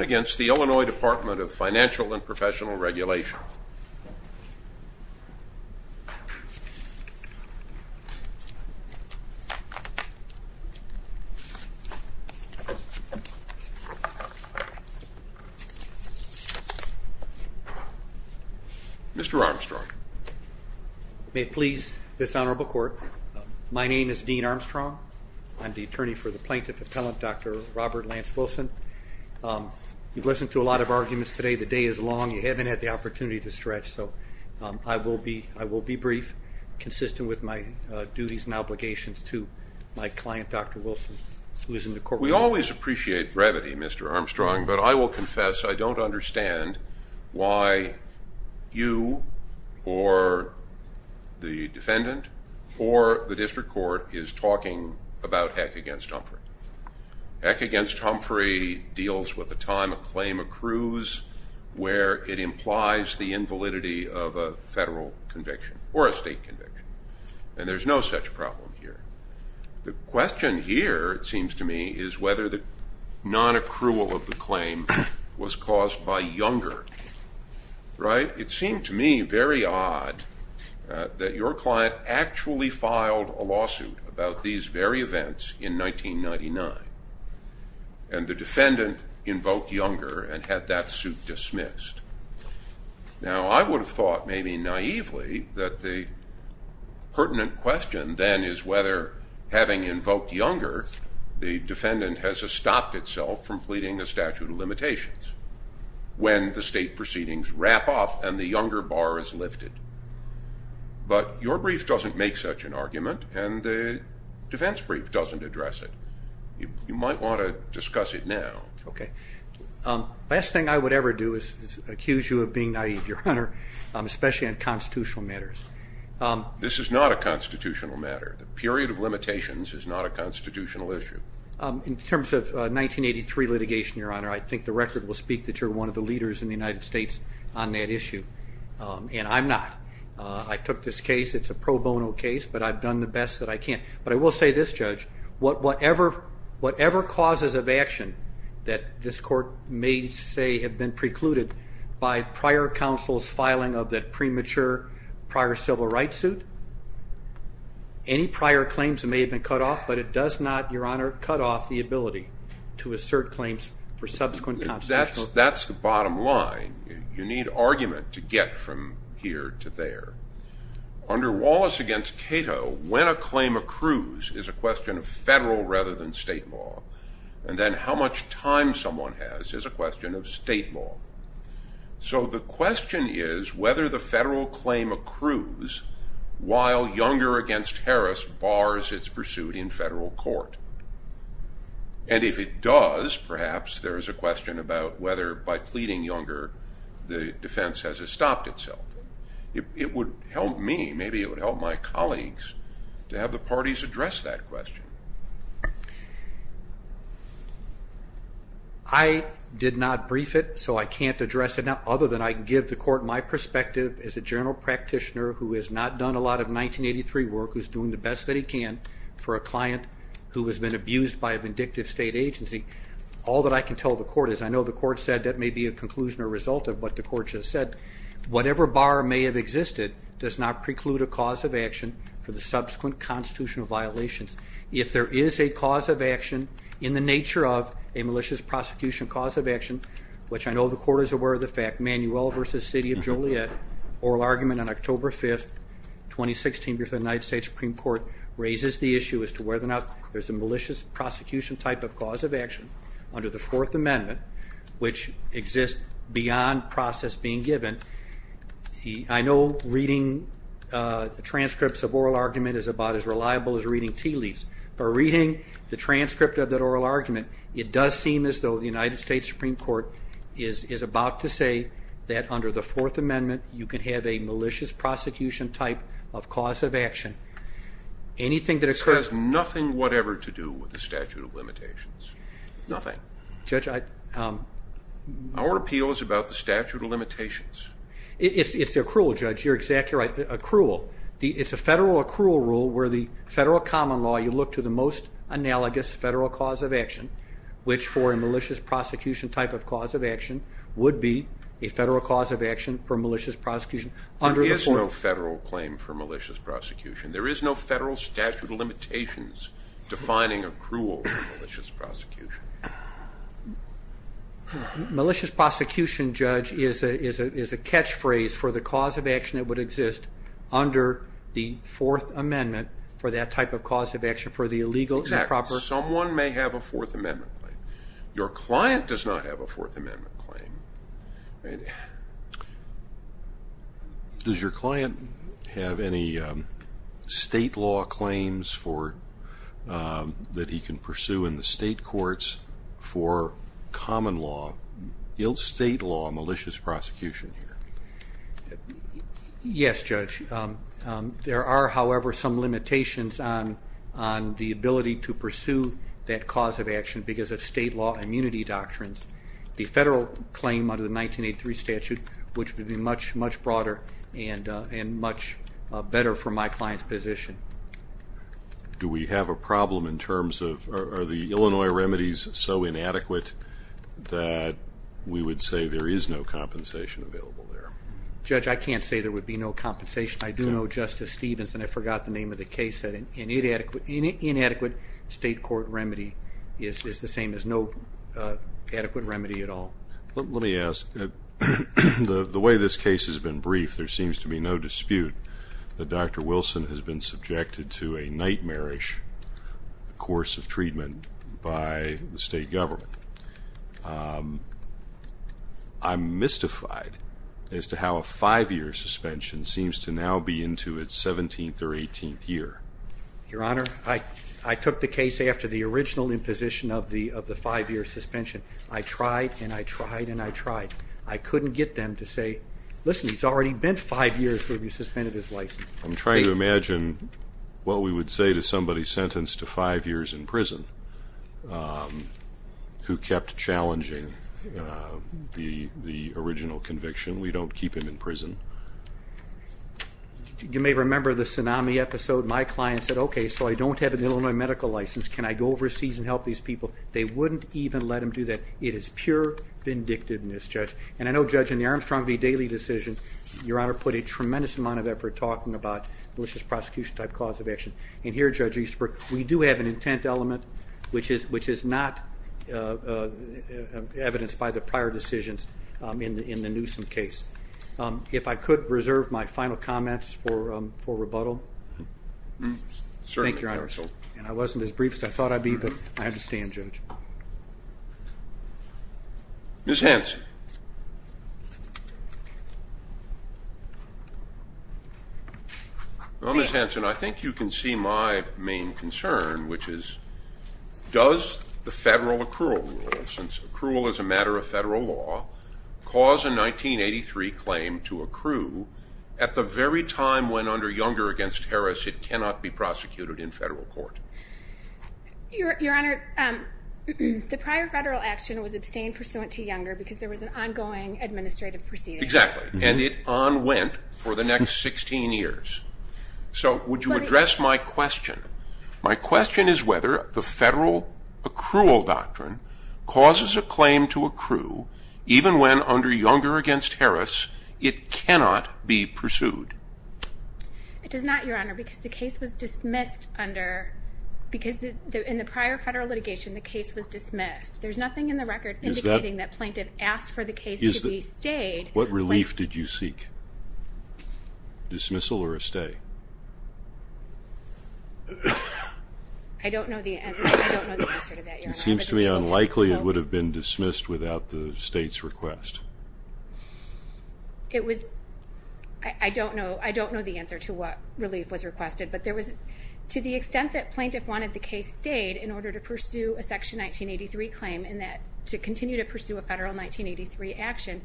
against the Illinois Department of Financial and Professional Regulation. Mr. Armstrong. May it please this Honorable Court, my name is Dean Armstrong. I'm the attorney for the Plaintiff Appellant, Dr. Robert Lance Wilson. You've listened to a lot of arguments today. The day is long. You haven't had the opportunity to stretch, so I will be brief, consistent with my duties and obligations to my client, Dr. Wilson, who is in the courtroom. We always appreciate brevity, Mr. Armstrong, but I will confess I don't understand why you or the defendant or the district court is talking about Heck against Humphrey. Heck against Humphrey deals with the time a claim accrues where it implies the invalidity of a federal conviction or a state conviction, and there's no such problem here. The question here, it seems to me, is whether the nonaccrual of the claim was caused by Younger, right? It seemed to me very odd that your client actually filed a lawsuit about these very events in 1999, and the defendant invoked Younger and had that suit dismissed. Now, I would have thought maybe naively that the pertinent question then is whether, having invoked Younger, the defendant has stopped itself from pleading a statute of limitations when the state proceedings wrap up and the Younger bar is lifted. But your brief doesn't make such an argument, and the defense brief doesn't address it. You might want to discuss it now. Okay. The best thing I would ever do is accuse you of being naive, Your Honor, especially on constitutional matters. This is not a constitutional matter. The period of limitations is not a constitutional issue. In terms of 1983 litigation, Your Honor, I think the record will speak that you're one of the leaders in the United States on that issue, and I'm not. I took this case. It's a pro bono case, but I've done the best that I can. But I will say this, Judge, whatever causes of action that this court may say have been precluded by prior counsel's filing of that premature prior civil rights suit, any prior claims may have been cut off, but it does not, Your Honor, cut off the ability to assert claims for subsequent constitutional. That's the bottom line. You need argument to get from here to there. Under Wallace against Cato, when a claim accrues is a question of federal rather than state law, and then how much time someone has is a question of state law. So the question is whether the federal claim accrues while Younger against Harris bars its pursuit in federal court. And if it does, perhaps there is a question about whether by pleading Younger the defense has stopped itself. It would help me. Maybe it would help my colleagues to have the parties address that question. I did not brief it, so I can't address it now other than I can give the court my perspective as a general practitioner who has not done a lot of 1983 work, who's doing the best that he can for a client who has been abused by a vindictive state agency. All that I can tell the court is I know the court said that may be a conclusion or result of what the court just said. Whatever bar may have existed does not preclude a cause of action for the subsequent constitutional violations. If there is a cause of action in the nature of a malicious prosecution cause of action, which I know the court is aware of the fact, Manuel versus City of Joliet, oral argument on October 5th, 2016 before the United States Supreme Court, raises the issue as to whether or not there's a malicious prosecution type of cause of action under the Fourth Amendment, which exists beyond process being given. I know reading transcripts of oral argument is about as reliable as reading tea leaves, but reading the transcript of that oral argument, it does seem as though the United States Supreme Court is about to say that under the Fourth Amendment you can have a malicious prosecution type of cause of action. This has nothing whatever to do with the statute of limitations. Nothing. Our appeal is about the statute of limitations. It's accrual, Judge. You're exactly right. Accrual. It's a federal accrual rule where the federal common law, you look to the most analogous federal cause of action, which for a malicious prosecution type of cause of action would be a federal cause of action for malicious prosecution. There is no federal claim for malicious prosecution. There is no federal statute of limitations defining accrual for malicious prosecution. Malicious prosecution, Judge, is a catchphrase for the cause of action that would exist under the Fourth Amendment for that type of cause of action for the illegal improper. Exactly. Someone may have a Fourth Amendment claim. Your client does not have a Fourth Amendment claim. Does your client have any state law claims that he can pursue in the state courts for common law, ill state law malicious prosecution here? Yes, Judge. There are, however, some limitations on the ability to pursue that cause of action because of state law immunity doctrines. The federal claim under the 1983 statute, which would be much, much broader and much better for my client's position. Do we have a problem in terms of are the Illinois remedies so inadequate that we would say there is no compensation available there? Judge, I can't say there would be no compensation. I do know Justice Stevens, and I forgot the name of the case, said an inadequate state court remedy is the same as no adequate remedy at all. Let me ask. The way this case has been briefed, there seems to be no dispute that Dr. Wilson has been subjected to a nightmarish course of treatment by the state government. I'm mystified as to how a five-year suspension seems to now be into its 17th or 18th year. Your Honor, I took the case after the original imposition of the five-year suspension. I tried and I tried and I tried. I couldn't get them to say, listen, he's already been five years where we suspended his license. I'm trying to imagine what we would say to somebody sentenced to five years in prison who kept challenging the original conviction. We don't keep him in prison. You may remember the tsunami episode. My client said, okay, so I don't have an Illinois medical license. Can I go overseas and help these people? They wouldn't even let him do that. It is pure vindictiveness, Judge. And I know, Judge, in the Armstrong v. Daly decision, Your Honor put a tremendous amount of effort talking about malicious prosecution-type cause of action. And here, Judge Easterbrook, we do have an intent element, which is not evidenced by the prior decisions in the Newsom case. If I could reserve my final comments for rebuttal. Thank you, Your Honor. And I wasn't as brief as I thought I'd be, but I understand, Judge. Ms. Hanson. Well, Ms. Hanson, I think you can see my main concern, which is does the federal accrual rule, since accrual is a matter of federal law, cause a 1983 claim to accrue at the very time when under Younger v. Harris it cannot be prosecuted in federal court? Your Honor, the prior federal action was abstained pursuant to Younger because there was an ongoing administrative proceeding. Exactly. And it unwent for the next 16 years. So would you address my question? My question is whether the federal accrual doctrine causes a claim to accrue even when under Younger v. Harris it cannot be pursued. It does not, Your Honor, because the case was dismissed under, because in the prior federal litigation the case was dismissed. There's nothing in the record indicating that Plaintiff asked for the case to be stayed. What relief did you seek? Dismissal or a stay? I don't know the answer to that, Your Honor. It seems to me unlikely it would have been dismissed without the state's request. It was, I don't know, I don't know the answer to what relief was requested, but there was, to the extent that Plaintiff wanted the case stayed in order to pursue a Section 1983 claim and to continue to pursue a federal 1983 action,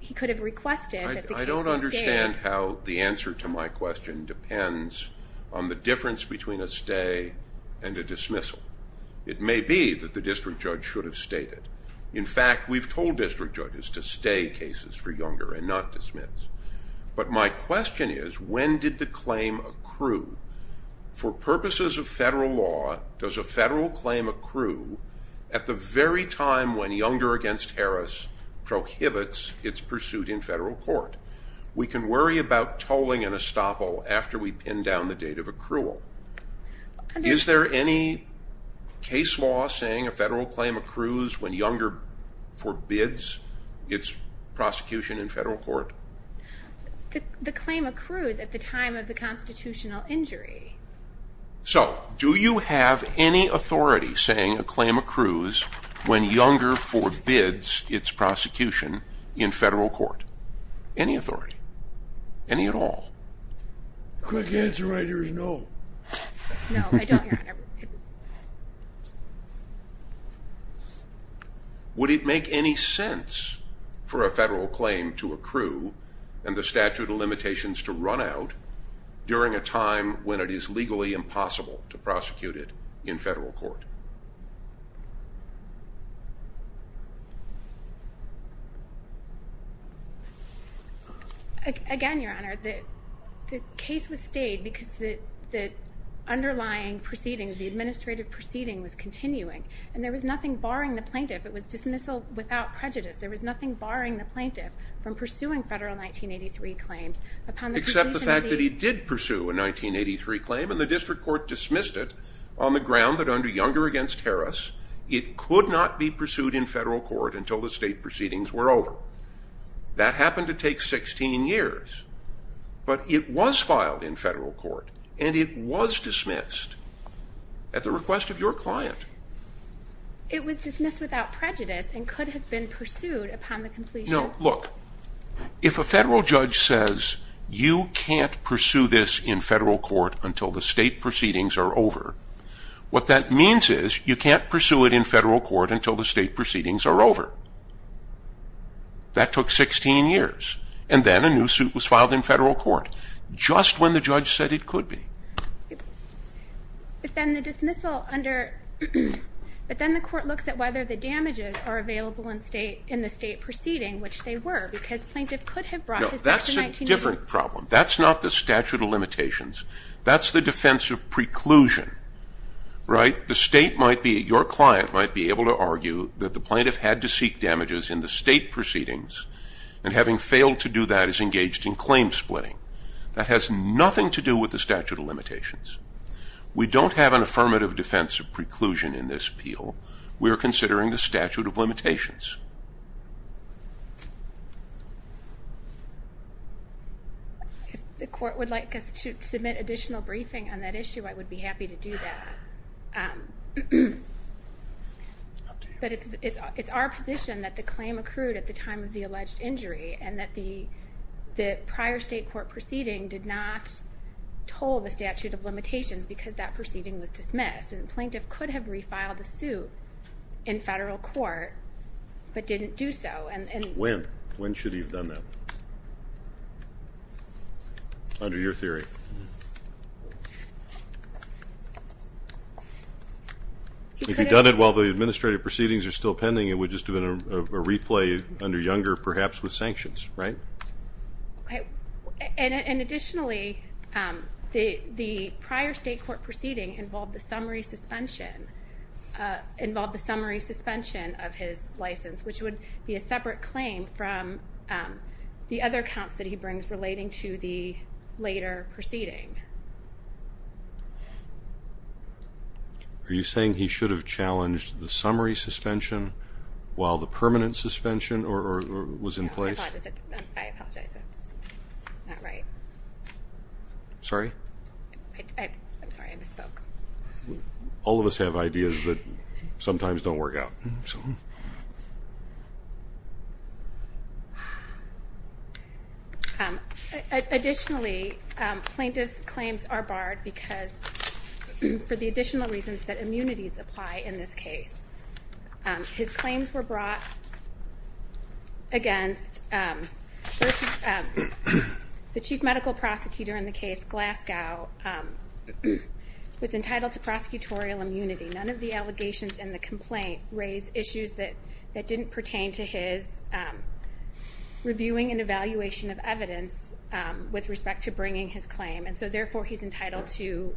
he could have requested that the case be stayed. I don't understand how the answer to my question depends on the difference between a stay and a dismissal. It may be that the district judge should have stayed it. In fact, we've told district judges to stay cases for Younger and not dismiss. But my question is, when did the claim accrue? For purposes of federal law, does a federal claim accrue at the very time when Younger v. Harris prohibits its pursuit in federal court? We can worry about tolling an estoppel after we pin down the date of accrual. Is there any case law saying a federal claim accrues when Younger forbids its prosecution in federal court? The claim accrues at the time of the constitutional injury. So, do you have any authority saying a claim accrues when Younger forbids its prosecution in federal court? Any authority? Any at all? The quick answer right here is no. No, I don't, Your Honor. Would it make any sense for a federal claim to accrue and the statute of limitations to run out during a time when it is legally impossible to prosecute it in federal court? Again, Your Honor, the case was stayed because the underlying proceedings, the administrative proceeding was continuing. And there was nothing barring the plaintiff. It was dismissal without prejudice. There was nothing barring the plaintiff from pursuing federal 1983 claims. Except the fact that he did pursue a 1983 claim and the district court dismissed it on the ground that under Younger v. Harris, it could not be pursued in federal court until the state proceedings were over. That happened to take 16 years. But it was filed in federal court and it was dismissed at the request of your client. It was dismissed without prejudice and could have been pursued upon the completion. No, look, if a federal judge says you can't pursue this in federal court until the state proceedings are over, what that means is you can't pursue it in federal court until the state proceedings are over. That took 16 years. And then a new suit was filed in federal court just when the judge said it could be. But then the dismissal under, but then the court looks at whether the damages are available in the state proceeding, which they were, because plaintiff could have brought this up in 1980. No, that's a different problem. That's not the statute of limitations. That's the defense of preclusion, right? The state might be, your client might be able to argue that the plaintiff had to seek damages in the state proceedings and having failed to do that is engaged in claim splitting. That has nothing to do with the statute of limitations. We don't have an affirmative defense of preclusion in this appeal. We are considering the statute of limitations. If the court would like us to submit additional briefing on that issue, I would be happy to do that. It's up to you. But it's our position that the claim accrued at the time of the alleged injury and that the prior state court proceeding did not toll the statute of limitations because that proceeding was dismissed. And the plaintiff could have refiled the suit in federal court but didn't do so. When? When should he have done that? Under your theory. If he'd done it while the administrative proceedings are still pending, it would just have been a replay under Younger, perhaps, with sanctions, right? Okay. And additionally, the prior state court proceeding involved the summary suspension of his license, which would be a separate claim from the other counts that he brings relating to the later proceeding. Are you saying he should have challenged the summary suspension while the permanent suspension was in place? I apologize. That's not right. Sorry? I'm sorry. I misspoke. All of us have ideas that sometimes don't work out. I'm sorry. Additionally, plaintiff's claims are barred because for the additional reasons that immunities apply in this case. His claims were brought against versus the chief medical prosecutor in the case, Glasgow, was entitled to prosecutorial immunity. None of the allegations in the complaint raise issues that didn't pertain to his reviewing and evaluation of evidence with respect to bringing his claim. And so, therefore, he's entitled to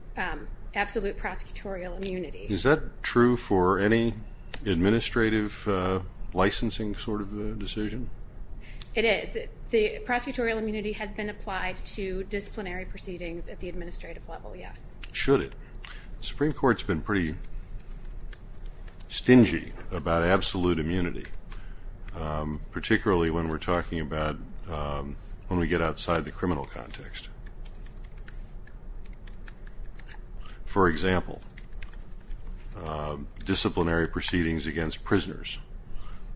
absolute prosecutorial immunity. Is that true for any administrative licensing sort of decision? It is. The prosecutorial immunity has been applied to disciplinary proceedings at the administrative level, yes. Should it? The Supreme Court's been pretty stingy about absolute immunity, particularly when we're talking about when we get outside the criminal context. For example, disciplinary proceedings against prisoners,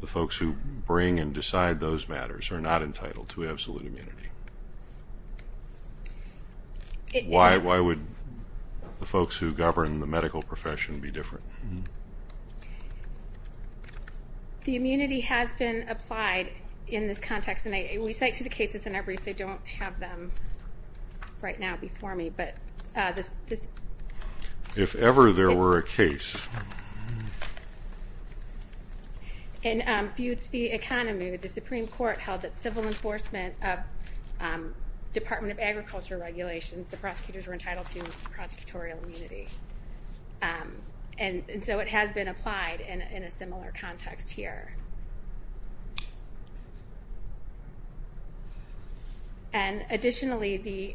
the folks who bring and decide those matters, are not entitled to absolute immunity. Why would the folks who govern the medical profession be different? The immunity has been applied in this context, and we cite to the cases in our briefs. I don't have them right now before me, but this... If ever there were a case... In Butte v. Economy, the Supreme Court held that civil enforcement of Department of Agriculture regulations, the prosecutors were entitled to prosecutorial immunity. And so it has been applied in a similar context here. And additionally, the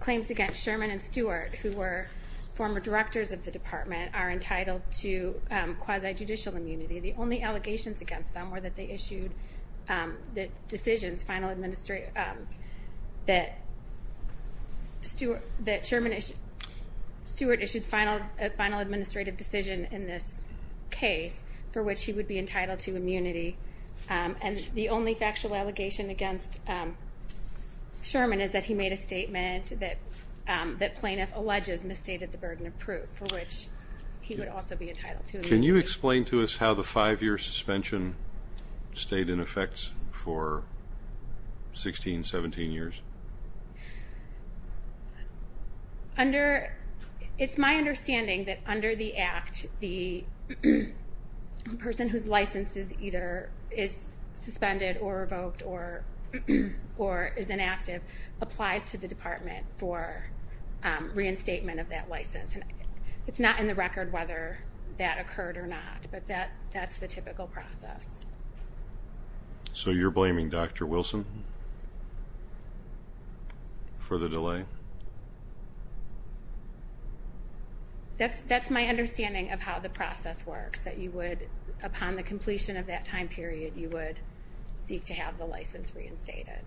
claims against Sherman and Stewart, who were former directors of the department, are entitled to quasi-judicial immunity. The only allegations against them were that they issued the decisions, final administrative... That Stewart issued a final administrative decision in this case, for which he would be entitled to immunity. And the only factual allegation against Sherman is that he made a statement that plaintiff alleges misstated the burden of proof, for which he would also be entitled to immunity. Can you explain to us how the five-year suspension stayed in effect for 16, 17 years? It's my understanding that under the Act, the person whose license is either suspended or revoked or is inactive, applies to the department for reinstatement of that license. It's not in the record whether that occurred or not, but that's the typical process. So you're blaming Dr. Wilson for the delay? That's my understanding of how the process works, that upon the completion of that time period, you would seek to have the license reinstated.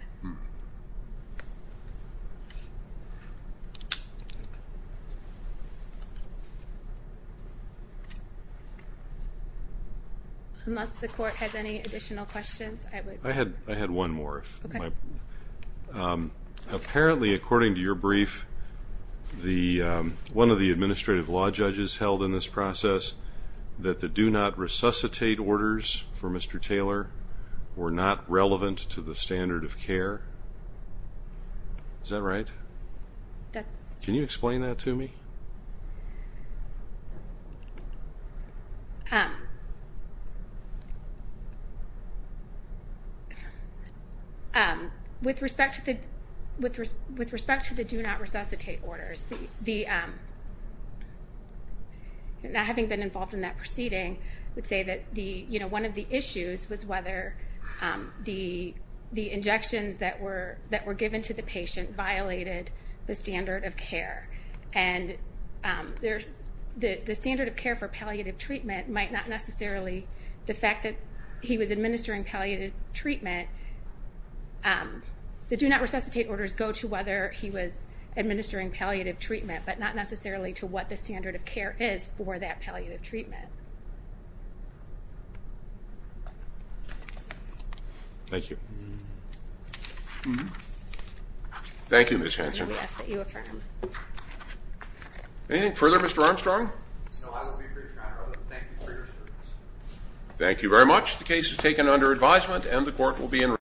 Unless the court has any additional questions, I would... I had one more. Apparently, according to your brief, one of the administrative law judges held in this process that the do-not-resuscitate orders for Mr. Taylor were not relevant to the standard of care. Is that right? Can you explain that to me? With respect to the do-not-resuscitate orders, having been involved in that proceeding, I would say that one of the issues was whether the injections that were given to the patient violated the standard of care. And the standard of care for palliative treatment might not necessarily, the fact that he was administering palliative treatment, the do-not-resuscitate orders go to whether he was administering palliative treatment, but not necessarily to what the standard of care is for that palliative treatment. Thank you. Thank you, Ms. Hanson. Anything further, Mr. Armstrong? Thank you very much. The case is taken under advisement and the court will be in recess.